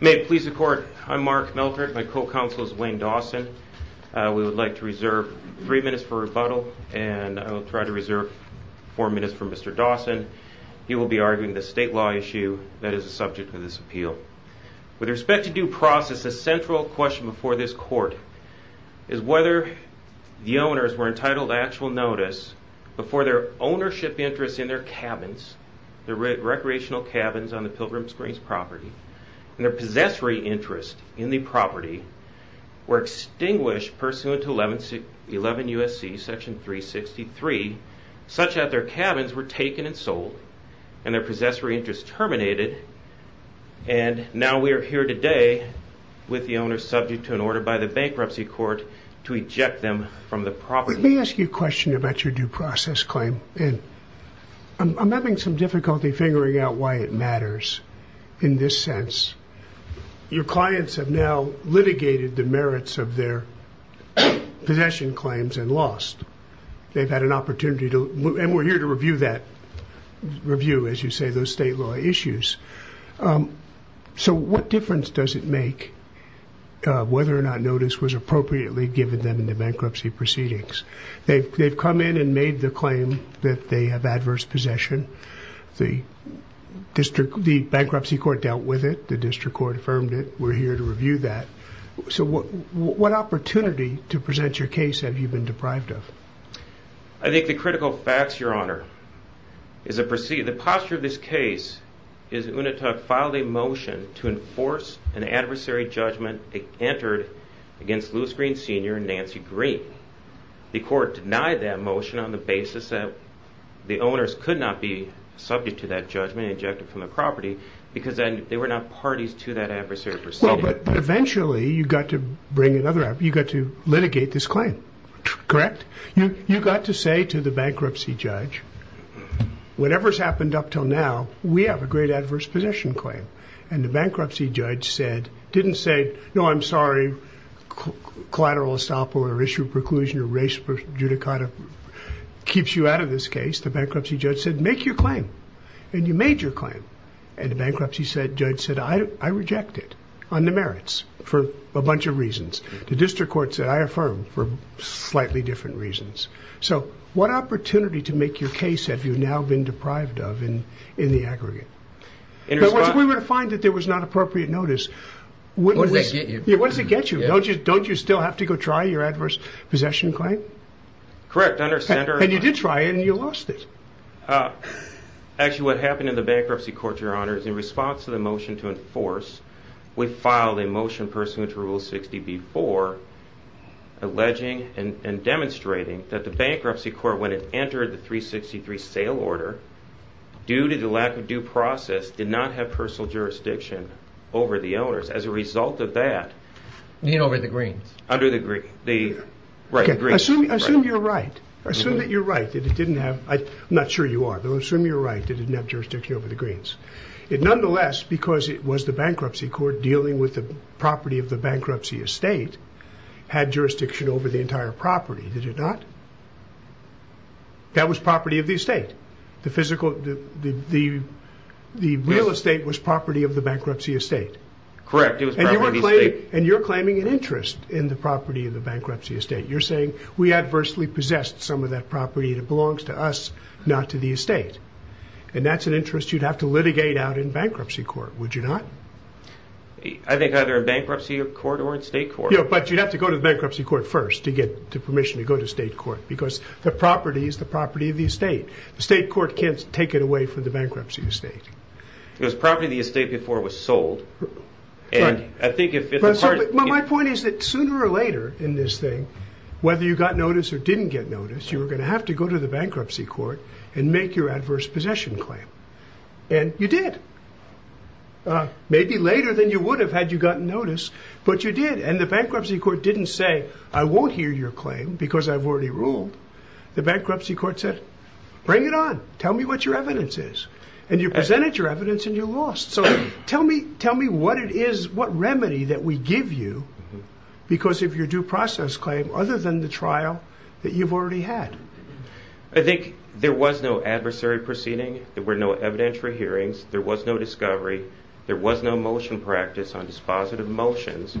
May it please the court, I'm Mark Meltrick, my co-counsel is Wayne Dawson. We would like to reserve three minutes for rebuttal and I will try to reserve four minutes for Mr. Dawson. He will be arguing the state law issue that is the subject of this appeal. With respect to due process, the central question before this court is whether the owners were entitled to actual notice before their ownership interests in their cabins, their recreational cabins on the Pilgrim Springs property and their possessory interest in the property were extinguished pursuant to 11 U.S.C. section 363 such that their cabins were taken and sold and their possessory interest terminated and now we are here today with the owners subject to an order by the bankruptcy court to eject them from the property. Let me ask you a question about your due process claim. I'm having some difficulty figuring out why it matters in this sense. Your clients have now litigated the merits of their possession claims and lost. They've had an opportunity to, and we're here to review that, review as you say those state law issues. So what difference does it make whether or not notice was appropriately given them in the bankruptcy proceedings? They've come in and made the possession. The bankruptcy court dealt with it. The district court affirmed it. We're here to review that. So what opportunity to present your case have you been deprived of? I think the critical facts, your honor, is the posture of this case is UNITA filed a motion to enforce an adversary judgment entered against Louis Green Sr. and Nancy Green. The owners could not be subject to that judgment and ejected from the property because they were not parties to that adversary proceeding. But eventually you got to bring another, you got to litigate this claim, correct? You got to say to the bankruptcy judge, whatever's happened up till now, we have a great adverse possession claim. And the bankruptcy judge said, didn't say, no, I'm sorry, collateral estoppel or issue of preclusion or race judicata keeps you out of this case. The bankruptcy judge said, make your claim. And you made your claim. And the bankruptcy judge said, I reject it on the merits for a bunch of reasons. The district court said, I affirm for slightly different reasons. So what opportunity to make your case have you now been deprived of in the aggregate? But once we were to find that there was not appropriate notice, what does it get you? Don't you still have to go try your adverse possession claim? Correct. Under center. And you did try it and you lost it. Actually, what happened in the bankruptcy court, your honor, is in response to the motion to enforce, we filed a motion pursuant to rule 60B4, alleging and demonstrating that the bankruptcy court, when it entered the 363 sale order, due to the lack of due process, did not have personal jurisdiction over the owners. As a result of that. And over the greens. Under the greens. Assume you're right. Assume that you're right, that it didn't have, I'm not sure you are, but assume you're right, that it didn't have jurisdiction over the greens. It nonetheless, because it was the bankruptcy court dealing with the property of the bankruptcy estate, had jurisdiction over the entire property, did it not? That was property of the estate. The real estate was property of the bankruptcy estate. Correct. It was property of the estate. And you're claiming an interest in the property of the bankruptcy estate. You're saying we adversely possessed some of that property that belongs to us, not to the estate. And that's an interest you'd have to litigate out in bankruptcy court, would you not? I think either in bankruptcy court or in state court. But you'd have to go to the bankruptcy court first to get permission to go to state court. Because the property is the property of the estate. The state court can't take it away from the bankruptcy estate. It was property of the estate before it was sold. My point is that sooner or later in this thing, whether you got notice or didn't get notice, you were going to have to go to the bankruptcy court and make your adverse possession claim. And you did. Maybe later than you would have had you gotten notice, but you did. And the bankruptcy court didn't say, I won't hear your claim because I've already ruled. The bankruptcy court didn't say that. So you had your evidence and you lost. So tell me what it is, what remedy that we give you, because of your due process claim, other than the trial that you've already had. I think there was no adversary proceeding. There were no evidentiary hearings. There was no discovery. There was no motion practice on dispositive motions,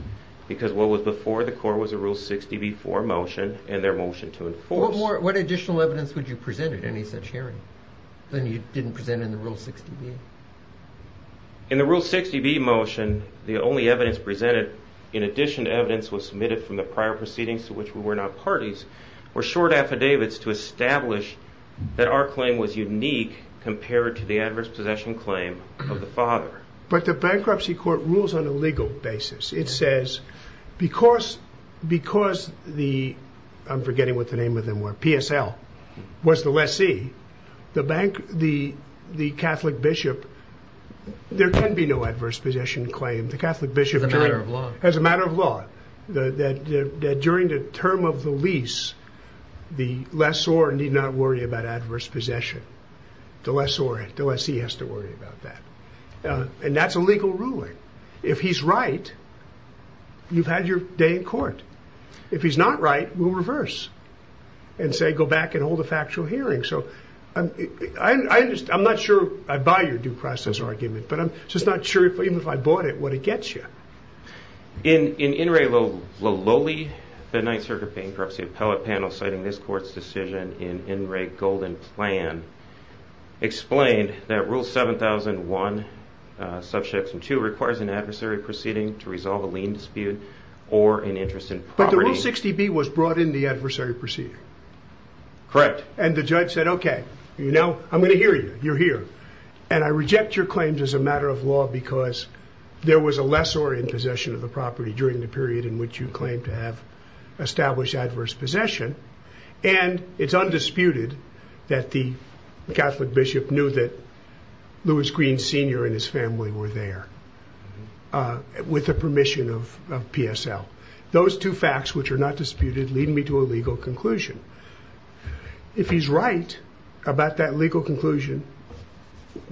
because what was before the court was a Rule 60b-4 motion and their motion to enforce. What additional evidence would you present at any such hearing than you didn't present in the Rule 60b? In the Rule 60b motion, the only evidence presented, in addition to evidence that was submitted from the prior proceedings to which we were not parties, were short affidavits to establish that our claim was unique compared to the adverse possession claim of the father. But the bankruptcy court rules on a legal basis. It says, because the, I'm forgetting what the name of them were, PSL, was the lessee, the Catholic bishop, there can be no adverse possession claim. The Catholic bishop has a matter of law. During the term of the lease, the lessor need not worry about adverse possession. The lessee has to worry about that. And that's a legal ruling. If he's right, you've had your day in court. If he's not right, we'll say go back and hold a factual hearing. So I'm not sure I buy your due process argument, but I'm just not sure, even if I bought it, what it gets you. In In Re Lololi, the Ninth Circuit Bankruptcy Appellate Panel, citing this court's decision in In Re Golden Plan, explained that Rule 7001, Subsection 2, requires an adversary proceeding to resolve a lien dispute or an interest in property. But the Rule 60B was brought in the adversary proceeding. Correct. And the judge said, okay, you know, I'm going to hear you. You're here. And I reject your claims as a matter of law because there was a lessor in possession of the property during the period in which you claimed to have established adverse possession. And it's undisputed that the Catholic bishop knew that Lewis Green, Sr. and his family were there with the permission of PSL. Those two facts, which are not disputed, lead me to a legal conclusion. If he's right about that legal conclusion,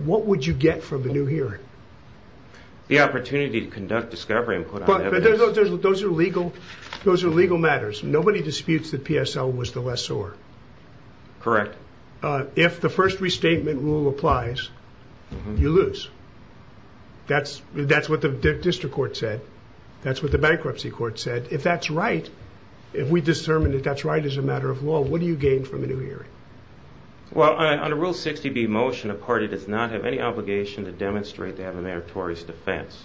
what would you get from the new hearing? The opportunity to conduct discovery and put on evidence. Those are legal matters. Nobody disputes that PSL was the lessor. Correct. If the first restatement rule applies, you lose. That's what the district court said. That's what the bankruptcy court said. If that's right, if we determine that that's right as a matter of law, what do you gain from the new hearing? Well, on a Rule 60B motion, a party does not have any obligation to demonstrate they have a meritorious defense.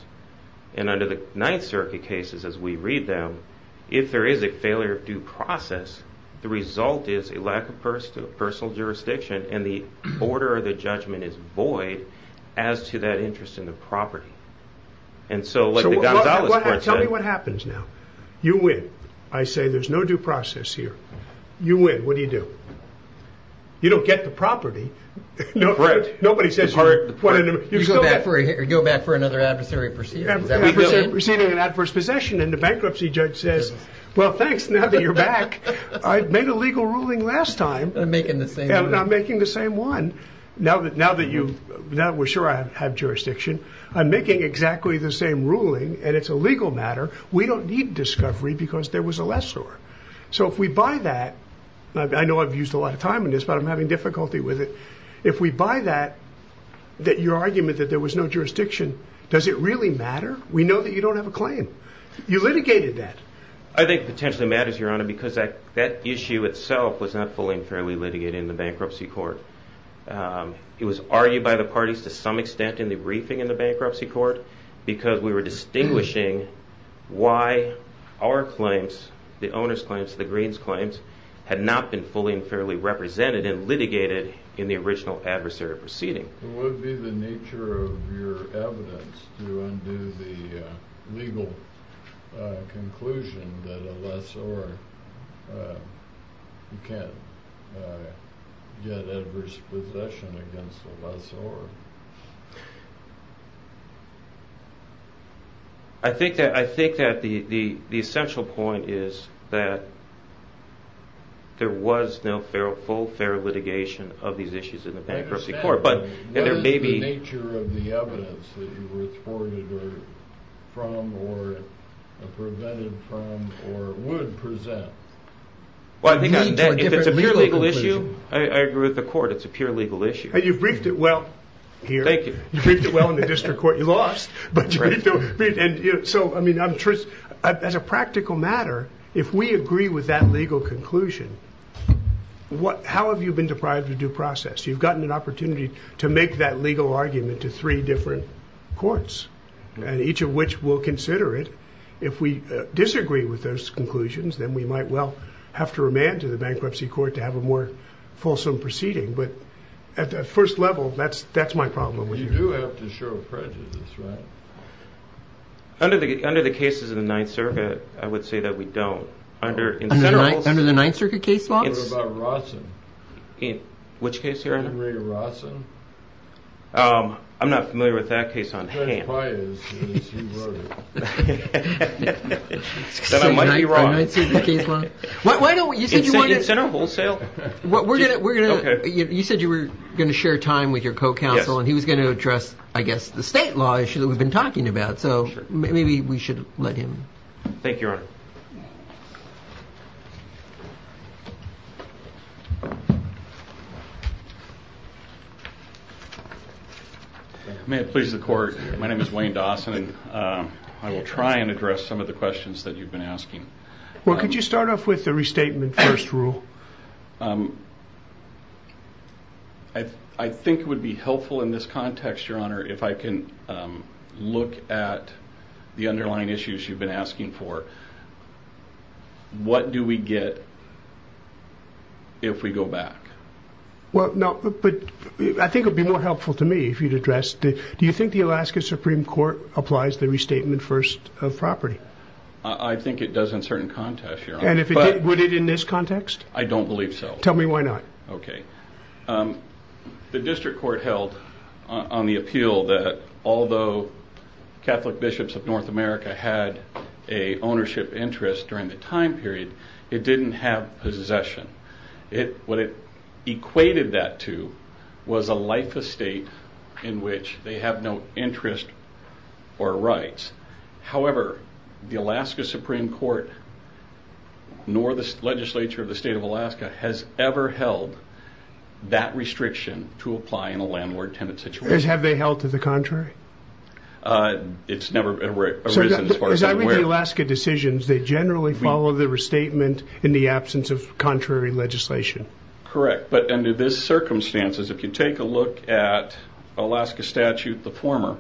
And under the Ninth Circuit cases, as we read them, if there is a failure of due process, the result is a lack of personal jurisdiction and the order of the judgment is void as to that interest in the property. And so, like the Gonzales court said... Tell me what happens now. You win. I say there's no due process here. You win. What do you do? You don't get the property. Correct. Nobody says you're... You go back for another adversary proceeding. An adversary proceeding, an adverse possession, and the bankruptcy judge says, well, thanks, now that you're back. I made a legal ruling last time. And making the same one. Now that we're sure I have jurisdiction, I'm making exactly the same ruling, and it's a legal matter. We don't need discovery because there was a lessor. So if we buy that, I know I've used a lot of time on this, but I'm having difficulty with it. If we buy that, that your argument that there was no jurisdiction, does it really matter? We know that you don't have a claim. You litigated that. I think it potentially matters, Your Honor, because that issue itself was not fully and fairly represented. It was argued by the parties to some extent in the briefing in the bankruptcy court because we were distinguishing why our claims, the owner's claims, the green's claims, had not been fully and fairly represented and litigated in the original adversary proceeding. What would be the nature of your evidence to undo the legal conclusion that a lessor can't get adverse possession against a lessor? I think that the essential point is that there was no full, fair litigation of these issues in the bankruptcy court. I understand, but what is the nature of the evidence that you were thwarted from or prevented from or would present? If it's a pure legal issue, I agree with the court, it's a pure legal issue. You've briefed it well here. Thank you. You've briefed it well in the district court. You lost, but you briefed it well. As a practical matter, if we agree with that legal conclusion, how have you been deprived of due process? You've gotten an opportunity to make that legal argument to three different courts, and each of which will consider it. If we disagree with those conclusions, then we might well have to remand to the bankruptcy court to have a more fulsome proceeding, but at the first level, that's my problem. You do have to show prejudice, right? Under the cases of the Ninth Circuit, I would say that we don't. Under the Ninth Circuit case law? What about Rawson? Which case here? Henry to Rawson? I'm not familiar with that case on hand. That's pious, as you wrote it. Then I might be wrong. The Ninth Circuit case law? Why don't we... Incentive center? Wholesale? We're going to... Okay. You said you were going to share time with your co-counsel, and he was going to address, I guess, the state law issue that we've been talking about, so maybe we should let him. Thank you, Your Honor. May it please the court. My name is Wayne Dawson, and I will try and address some of the questions that you've been asking. Well, could you start off with the restatement first rule? I think it would be helpful in this context, Your Honor, if I can look at the underlying issues you've been asking for. What do we get if we go back? Well, no, but I think it would be more helpful to me if you'd address, do you think the Alaska Supreme Court applies the restatement first of property? I think it does in certain contexts, Your Honor. And would it in this context? I don't believe so. Tell me why not. Okay. The district court held on the appeal that although Catholic bishops of North America had a ownership interest during the time period, it didn't have possession. What it equated that to was a life estate in which they have no interest or rights. However, the Alaska Supreme Court, nor the legislature of the state of Alaska, has ever held that restriction to apply in a landlord-tenant situation. Have they held to the contrary? As I read the Alaska decisions, they generally follow the restatement in the absence of contrary legislation. Correct. But under these circumstances, if you take a look at Alaska statute, the former,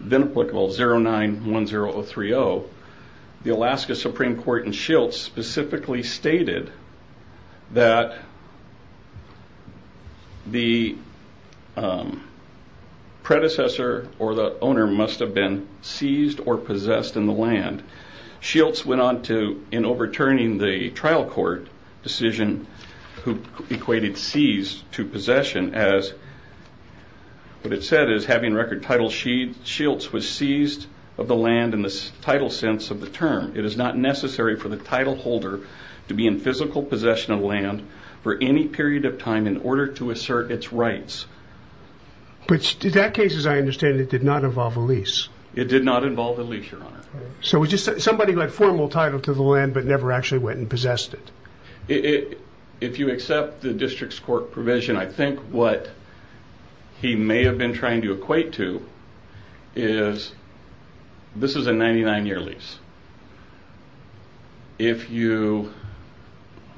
then applicable 09-10-030, the Alaska Supreme Court in Shilts specifically stated that the predecessor or the owner must have been seized or possessed in the land. Shilts went on to, in overturning the trial court decision who equated seize to possession as, what it said is having record title, Shilts was seized of the land in the title sense of the term. It is not necessary for the title holder to be in physical possession of land for any period of time in order to assert its rights. But in that case, as I understand it, it did not involve a lease. It did not involve a lease, Your Honor. So it was just somebody who had formal title to the land but never actually went and possessed it. If you accept the district's court provision, I think what he may have been trying to equate to is this is a 99-year lease. If you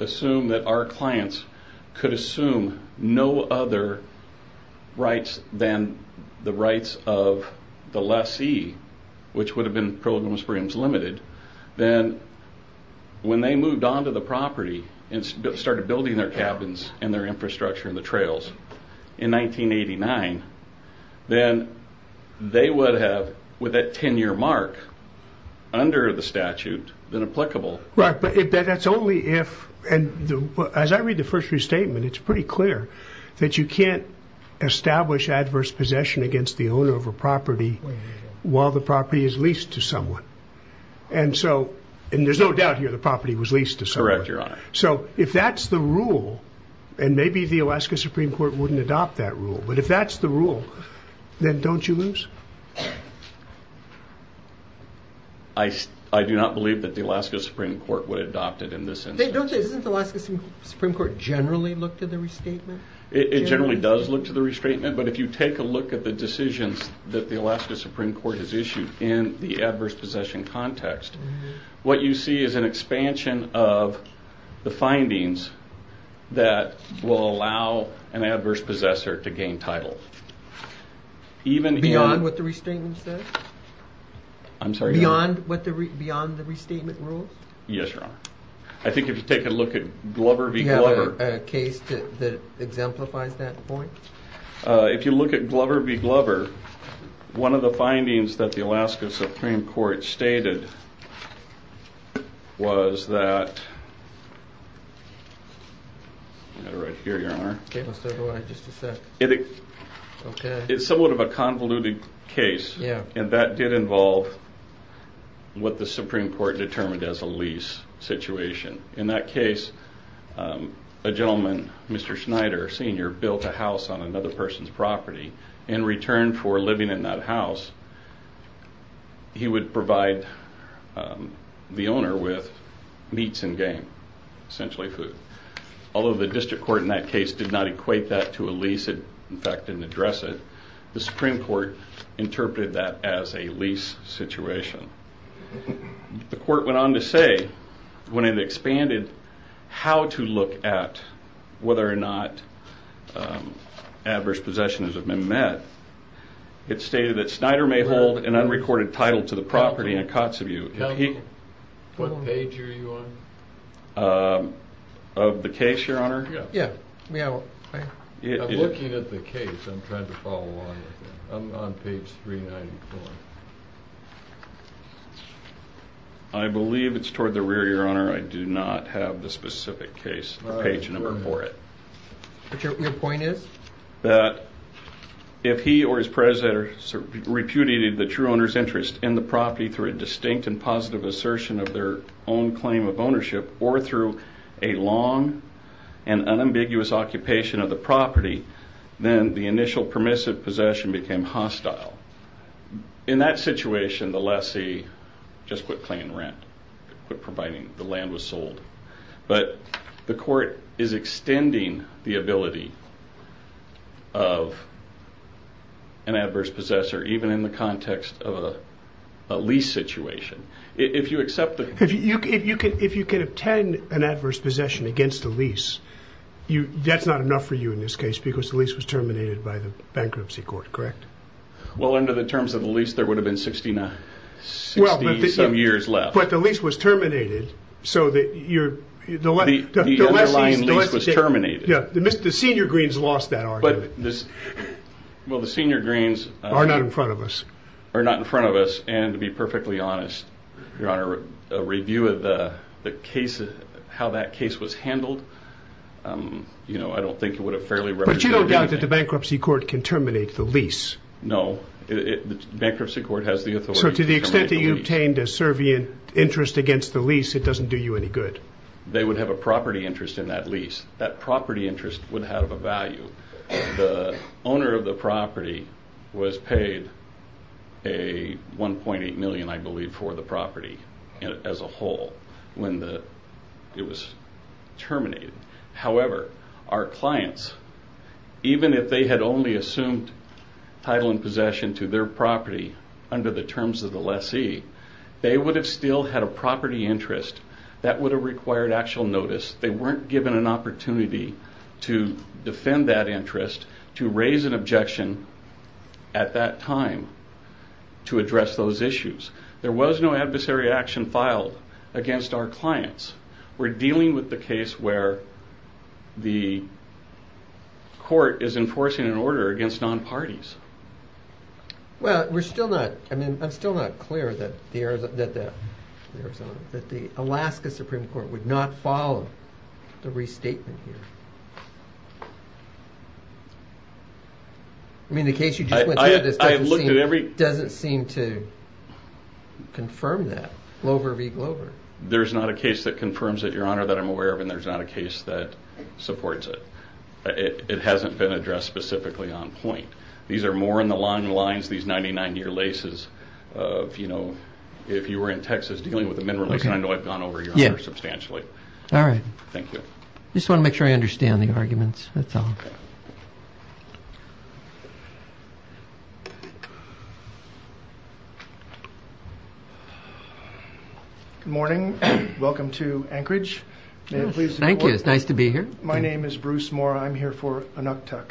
assume that our clients could assume no other rights than the rights of the lessee, which would have been Pearl River Springs Limited, then when they moved on to the property and started building their cabins and their infrastructure and the trails in 1989, then they would have, with that 10-year mark under the statute, been applicable. Right, but that's only if, and as I read the first restatement, it's pretty clear that you can't establish adverse possession against the owner of a property while the property is leased to someone. And there's no doubt here the property was leased to someone. Correct, Your Honor. So if that's the rule, and maybe the Alaska Supreme Court wouldn't adopt that rule, but if that's the rule, then don't you lose? I do not believe that the Alaska Supreme Court would adopt it in this instance. Isn't the Alaska Supreme Court generally looked at the restatement? It generally does look to the restatement, but if you take a look at the decisions that the Alaska Supreme Court has issued in the adverse possession context, what you see is an expansion of the findings that will allow an adverse possessor to gain title. Beyond what the restatement says? I'm sorry? Beyond the restatement rules? Yes, Your Honor. I think if you take a look at Glover v. Glover. Is there a case that exemplifies that point? If you look at Glover v. Glover, one of the findings that the Alaska Supreme Court stated was that... I have it right here, Your Honor. Okay, let's go to it in just a sec. It's somewhat of a convoluted case, and that did involve what the Supreme Court determined as a lease situation. In that case, a gentleman, Mr. Schneider Sr., built a house on another person's property. In return for living in that house, he would provide the owner with meats and game, essentially food. Although the district court in that case did not equate that to a lease, in fact, didn't address it, the Supreme Court interpreted that as a lease situation. The court went on to say, when it expanded how to look at whether or not adverse possessions have been met, it stated that Schneider may hold an unrecorded title to the property in Kotzebue. What page are you on? Of the case, Your Honor? Yeah. I'm looking at the case. I'm trying to follow along. I'm on page 394. I believe it's toward the rear, Your Honor. I do not have the specific case or page number for it. Your point is? That if he or his predecessor repudiated the true owner's interest in the property through a distinct and positive assertion of their own claim of ownership or through a long and unambiguous occupation of the property, then the initial permissive possession became hostile. In that situation, the lessee just quit paying rent, quit providing the land was sold. But the court is extending the ability of an adverse possessor, even in the context of a lease situation. If you accept that... If you can obtain an adverse possession against a lease, that's not enough for you in this case because the lease was terminated by the bankruptcy court, correct? Well, under the terms of the lease, there would have been 60-some years left. But the lease was terminated, so that your... The underlying lease was terminated. The senior greens lost that argument. Well, the senior greens... Are not in front of us. Are not in front of us, and to be perfectly honest, Your Honor, a review of how that case was handled, I don't think it would have fairly represented... But you don't think that the bankruptcy court can terminate the lease? No. The bankruptcy court has the authority to terminate the lease. So to the extent that you obtained a servient interest against the lease, it doesn't do you any good? They would have a property interest in that lease. That property interest would have a value. The owner of the property was paid a $1.8 million, I believe, for the property as a whole when it was terminated. However, our clients, even if they had only assumed title and possession to their property under the terms of the lessee, they would have still had a property interest that would have required actual notice. They weren't given an opportunity to defend that interest, to raise an objection at that time to address those issues. There was no adversary action filed against our clients. We're dealing with the case where the court is enforcing an order against non-parties. I'm still not clear that the Alaska Supreme Court would not follow the restatement here. The case you just went through doesn't seem to confirm that. Glover v. Glover. There's not a case that confirms it, Your Honor, that I'm aware of, and there's not a case that supports it. It hasn't been addressed specifically on point. These are more in the long lines, these 99-year leases. If you were in Texas dealing with a mineral lease, I know I've gone over your Honor substantially. All right. Thank you. I just want to make sure I understand the arguments. That's all. Good morning. Welcome to Anchorage. Thank you. It's nice to be here. My name is Bruce Moore. I'm here for a NUCTUC.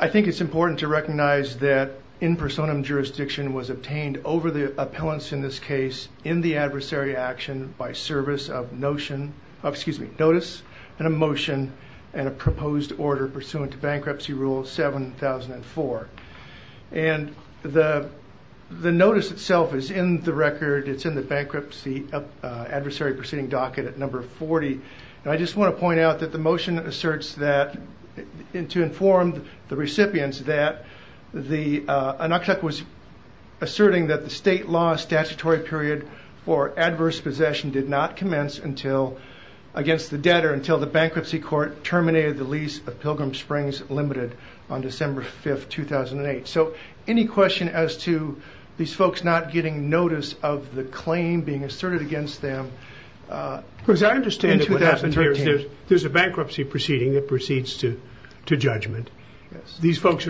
I think it's important to recognize that in personam jurisdiction was obtained over the appellants in this case in the adversary action by service of notion of, excuse me, notice and a motion and a proposed order pursuant to bankruptcy rule 7004. And the notice itself is in the record. It's in the bankruptcy adversary proceeding docket at number 40. I just want to point out that the motion asserts that to inform the recipients that the NUCTUC was asserting that the state law statutory period for adverse possession did not commence against the debtor until the bankruptcy court terminated the lease of Pilgrim Springs Limited on December 5th, 2008. So any question as to these folks not getting notice of the claim being asserted against them? Because I understand that what happened here is there's a bankruptcy proceeding that proceeds to judgment. These folks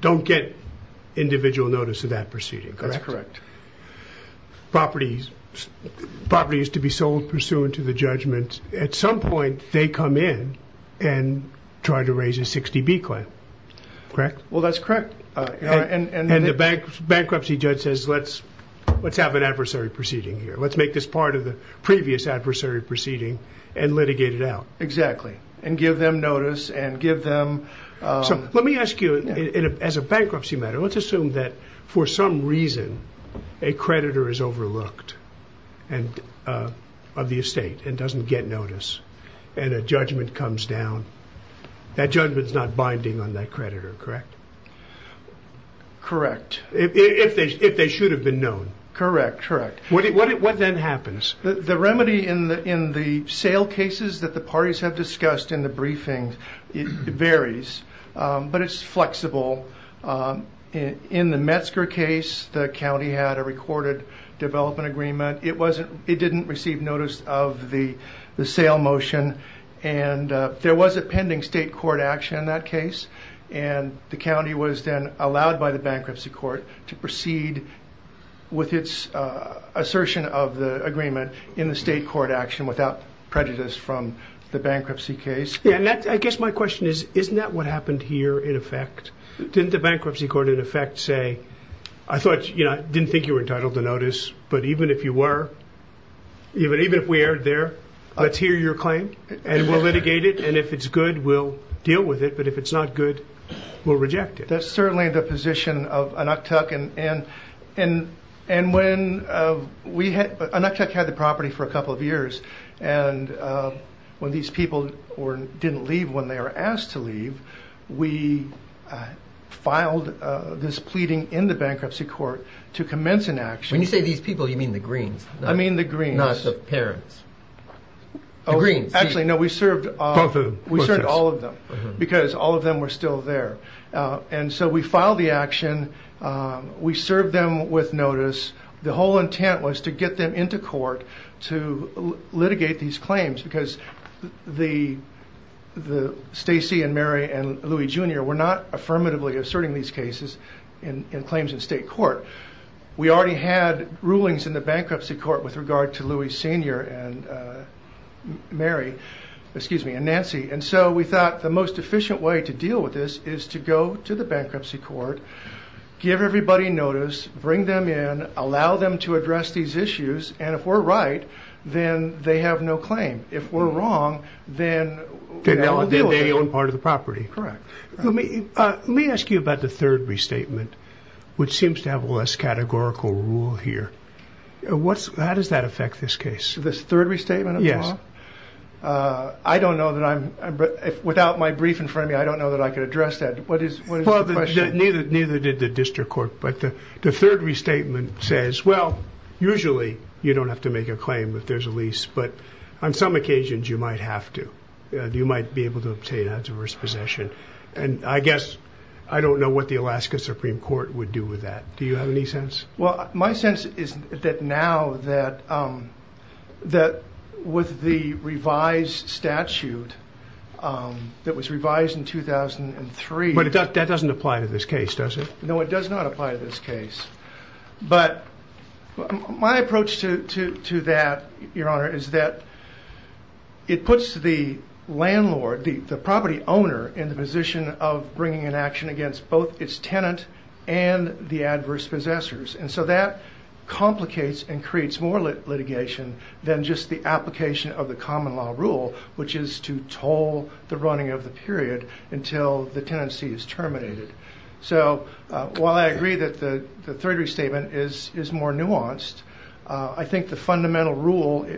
don't get individual notice of that proceeding. That's correct. Properties to be sold pursuant to the judgment. At some point they come in and try to raise a 60B claim. Correct? Well, that's correct. And the bankruptcy judge says let's have an adversary proceeding here. Let's make this part of the previous adversary proceeding and litigate it out. Exactly. And give them notice and give them... So let me ask you as a bankruptcy matter. Let's assume that for some reason a creditor is overlooked of the estate and doesn't get notice and a judgment comes down. That judgment is not binding on that creditor, correct? Correct. If they should have been known. Correct, correct. What then happens? The remedy in the sale cases that the parties have discussed in the briefing varies, but it's flexible. In the Metzger case, the county had a recorded development agreement. It didn't receive notice of the sale motion. And there was a pending state court action in that case. And the county was then allowed by the bankruptcy court to proceed with its assertion of the agreement in the state court action without prejudice from the bankruptcy case. I guess my question is, isn't that what happened here in effect? Didn't the bankruptcy court in effect say, I didn't think you were entitled to notice, but even if you were, even if we erred there, let's hear your claim? And we'll litigate it. And if it's good, we'll deal with it. But if it's not good, we'll reject it. That's certainly the position of Anuktuk. And when we had, Anuktuk had the property for a couple of years. And when these people didn't leave when they were asked to leave, we filed this pleading in the bankruptcy court to commence an action. When you say these people, you mean the Greens. I mean the Greens. Not the parents. The Greens. Actually, no, we served all of them because all of them were still there. And so we filed the action. We served them with notice. The whole intent was to get them into court to litigate these claims because the Stacy and Mary and Louie Jr. were not affirmatively asserting these cases in claims in state court. We already had rulings in the bankruptcy court with regard to Louie Sr. and Mary, excuse me, and Nancy. And so we thought the most efficient way to deal with this is to go to the bankruptcy court, give everybody notice, bring them in, allow them to address these issues, and if we're right, then they have no claim. If we're wrong, then we'll deal with it. They own part of the property. Correct. Let me ask you about the third restatement, which seems to have a less categorical rule here. How does that affect this case? This third restatement? Yes. I don't know that I'm, without my brief in front of me, I don't know that I could address that. What is the question? Neither did the district court, but the third restatement says, well, usually you don't have to make a claim if there's a lease, but on some occasions you might have to. You might be able to obtain adverse possession. And I guess I don't know what the Alaska Supreme Court would do with that. Do you have any sense? Well, my sense is that now that with the revised statute that was revised in 2003. But that doesn't apply to this case, does it? No, it does not apply to this case. But my approach to that, Your Honor, is that it puts the landlord, the property owner, in the position of bringing an action against both its tenant and the adverse possessors. And so that complicates and creates more litigation than just the application of the common law rule, which is to toll the running of the period until the tenancy is terminated. So while I agree that the third restatement is more nuanced, I think the fundamental rule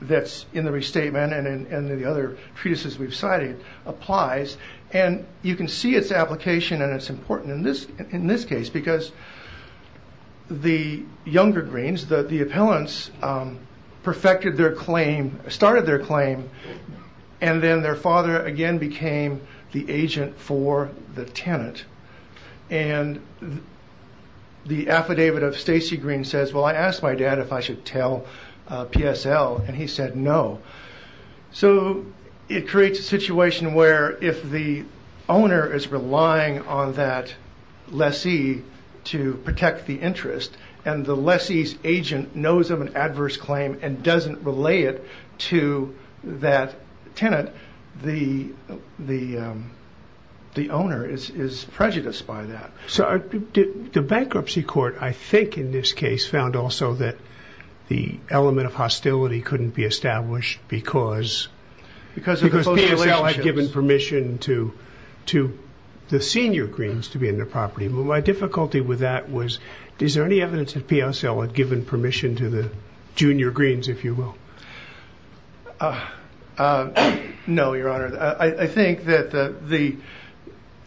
that's in the restatement and in the other treatises we've cited applies. And you can see its application, and it's important in this case, because the younger greens, the appellants, perfected their claim, started their claim, and then their father again became the agent for the tenant. And the affidavit of Stacey Green says, Well, I asked my dad if I should tell PSL, and he said no. So it creates a situation where if the owner is relying on that lessee to protect the interest, and the lessee's agent knows of an adverse claim and doesn't relay it to that tenant, the owner is prejudiced by that. So the bankruptcy court, I think, in this case, found also that the element of hostility couldn't be established because... Because PSL had given permission to the senior greens to be in their property. My difficulty with that was, is there any evidence that PSL had given permission to the junior greens, if you will? No, Your Honor. I think that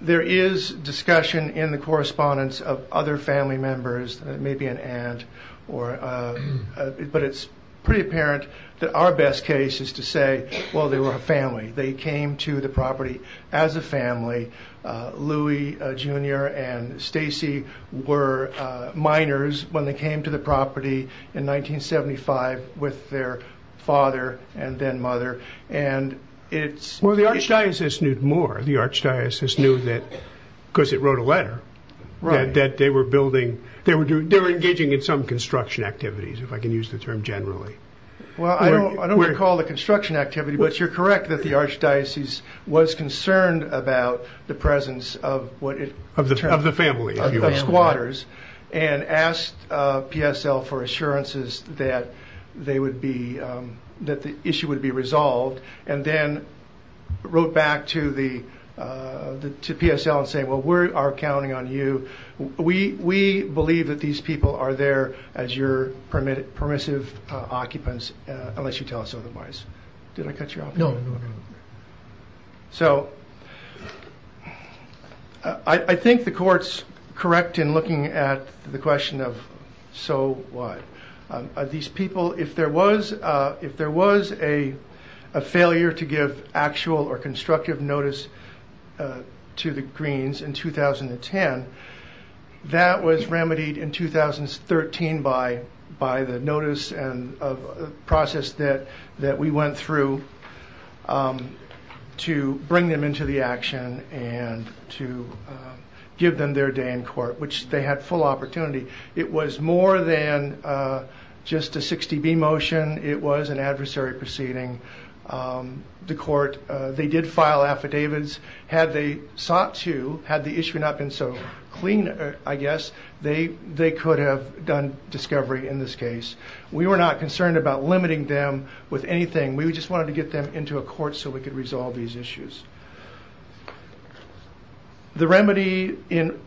there is discussion in the correspondence of other family members, maybe an aunt, but it's pretty apparent that our best case is to say, well, they were a family. They came to the property as a family. Louie Jr. and Stacey were minors when they came to the property in 1975 with their father and then mother, and it's... Well, the archdiocese knew more. The archdiocese knew that, because it wrote a letter, that they were building... They were engaging in some construction activities, if I can use the term generally. Well, I don't recall the construction activity, but you're correct that the archdiocese was concerned about the presence of what it... Of the family, if you will. Of squatters, and asked PSL for assurances that they would be, that the issue would be resolved, and then wrote back to PSL and said, well, we are counting on you. We believe that these people are there as your permissive occupants, unless you tell us otherwise. Did I cut you off? No, no, no. So, I think the court's correct in looking at the question of, so what? These people, if there was a failure to give actual or constructive notice to the Greens in 2010, that was remedied in 2013 by the notice and process that we went through to bring them into the action and to give them their day in court, which they had full opportunity. It was more than just a 60B motion. It was an adversary proceeding. The court, they did file affidavits. Had they sought to, had the issue not been so clean, I guess, they could have done discovery in this case. We were not concerned about limiting them with anything. We just wanted to get them into a court so we could resolve these issues. The remedy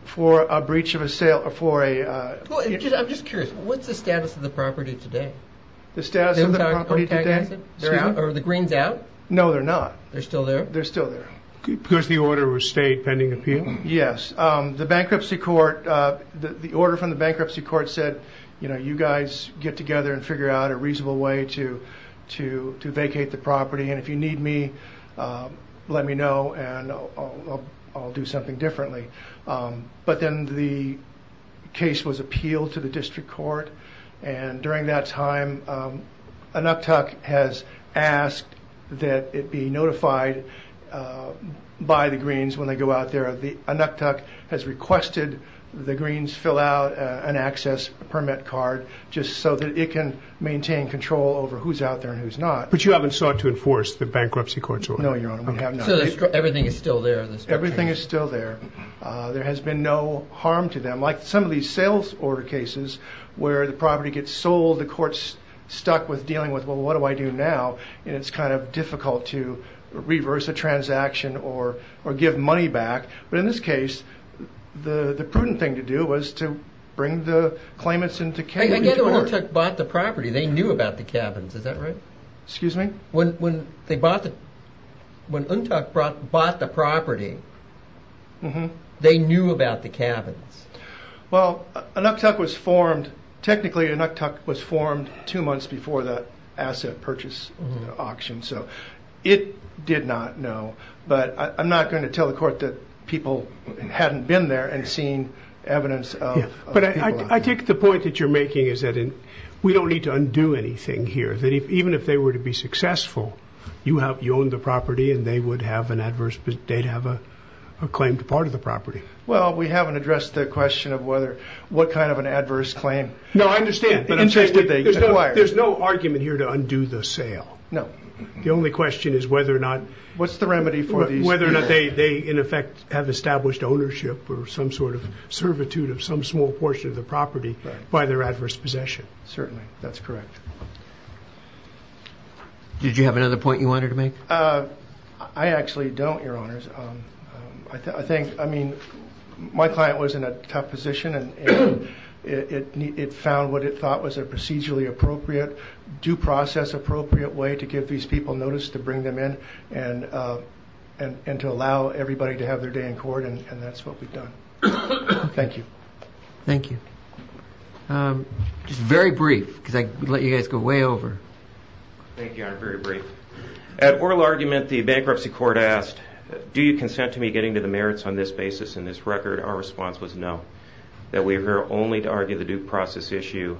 for a breach of a sale or for a- I'm just curious, what's the status of the property today? The status of the property today? The Greens out? No, they're not. They're still there? They're still there. Because the order was stayed pending appeal? Yes. The bankruptcy court, the order from the bankruptcy court said, you know, you guys get together and figure out a reasonable way to vacate the property, and if you need me, let me know, and I'll do something differently. But then the case was appealed to the district court, and during that time, NUCTUC has asked that it be notified by the Greens when they go out there. NUCTUC has requested the Greens fill out an access permit card just so that it can maintain control over who's out there and who's not. But you haven't sought to enforce the bankruptcy court's order? No, Your Honor, we have not. So everything is still there in the district court? Everything is still there. There has been no harm to them. Like some of these sales order cases where the property gets sold, the court's stuck with dealing with, well, what do I do now? And it's kind of difficult to reverse a transaction or give money back. But in this case, the prudent thing to do was to bring the claimants into care. I get that NUCTUC bought the property. They knew about the cabins. Is that right? Excuse me? When NUCTUC bought the property, they knew about the cabins? Well, technically NUCTUC was formed two months before the asset purchase auction, so it did not know, but I'm not going to tell the court that people hadn't been there and seen evidence of people out there. But I take the point that you're making is that we don't need to undo anything here, that even if they were to be successful, you own the property and they'd have a claim to part of the property. Well, we haven't addressed the question of what kind of an adverse claim. No, I understand. There's no argument here to undo the sale. No. The only question is whether or not they, in effect, have established ownership or some sort of servitude of some small portion of the property by their adverse possession. Certainly, that's correct. Did you have another point you wanted to make? I actually don't, Your Honors. I mean, my client was in a tough position, and it found what it thought was a procedurally appropriate, due process appropriate way to give these people notice to bring them in and to allow everybody to have their day in court, and that's what we've done. Thank you. Thank you. Just very brief, because I'd let you guys go way over. Thank you, Your Honor. Very brief. At oral argument, the bankruptcy court asked, do you consent to me getting to the merits on this basis in this record? Our response was no, that we are here only to argue the due process issue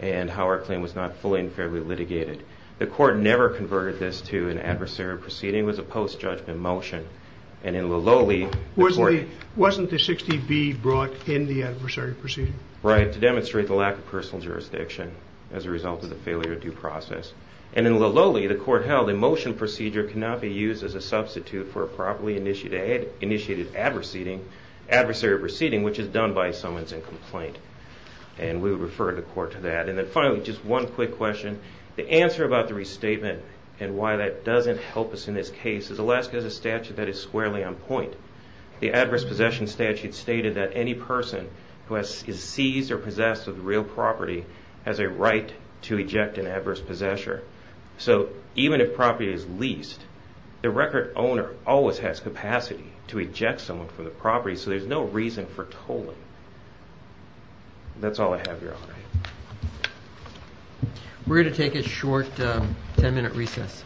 and how our claim was not fully and fairly litigated. The court never converted this to an adversarial proceeding. It was a post-judgment motion. Wasn't the 60B brought in the adversarial proceeding? Right, to demonstrate the lack of personal jurisdiction as a result of the failure of due process. In Lillole, the court held a motion procedure cannot be used as a substitute for a properly initiated adversarial proceeding, which is done by summons and complaint. We would refer the court to that. Finally, just one quick question. The answer about the restatement and why that doesn't help us in this case is Alaska has a statute that is squarely on point. The adverse possession statute stated that any person who is seized or possessed of real property has a right to eject an adverse possessor. So even if property is leased, the record owner always has capacity to eject someone from the property, so there's no reason for tolling. That's all I have, Your Honor. We're going to take a short 10-minute recess.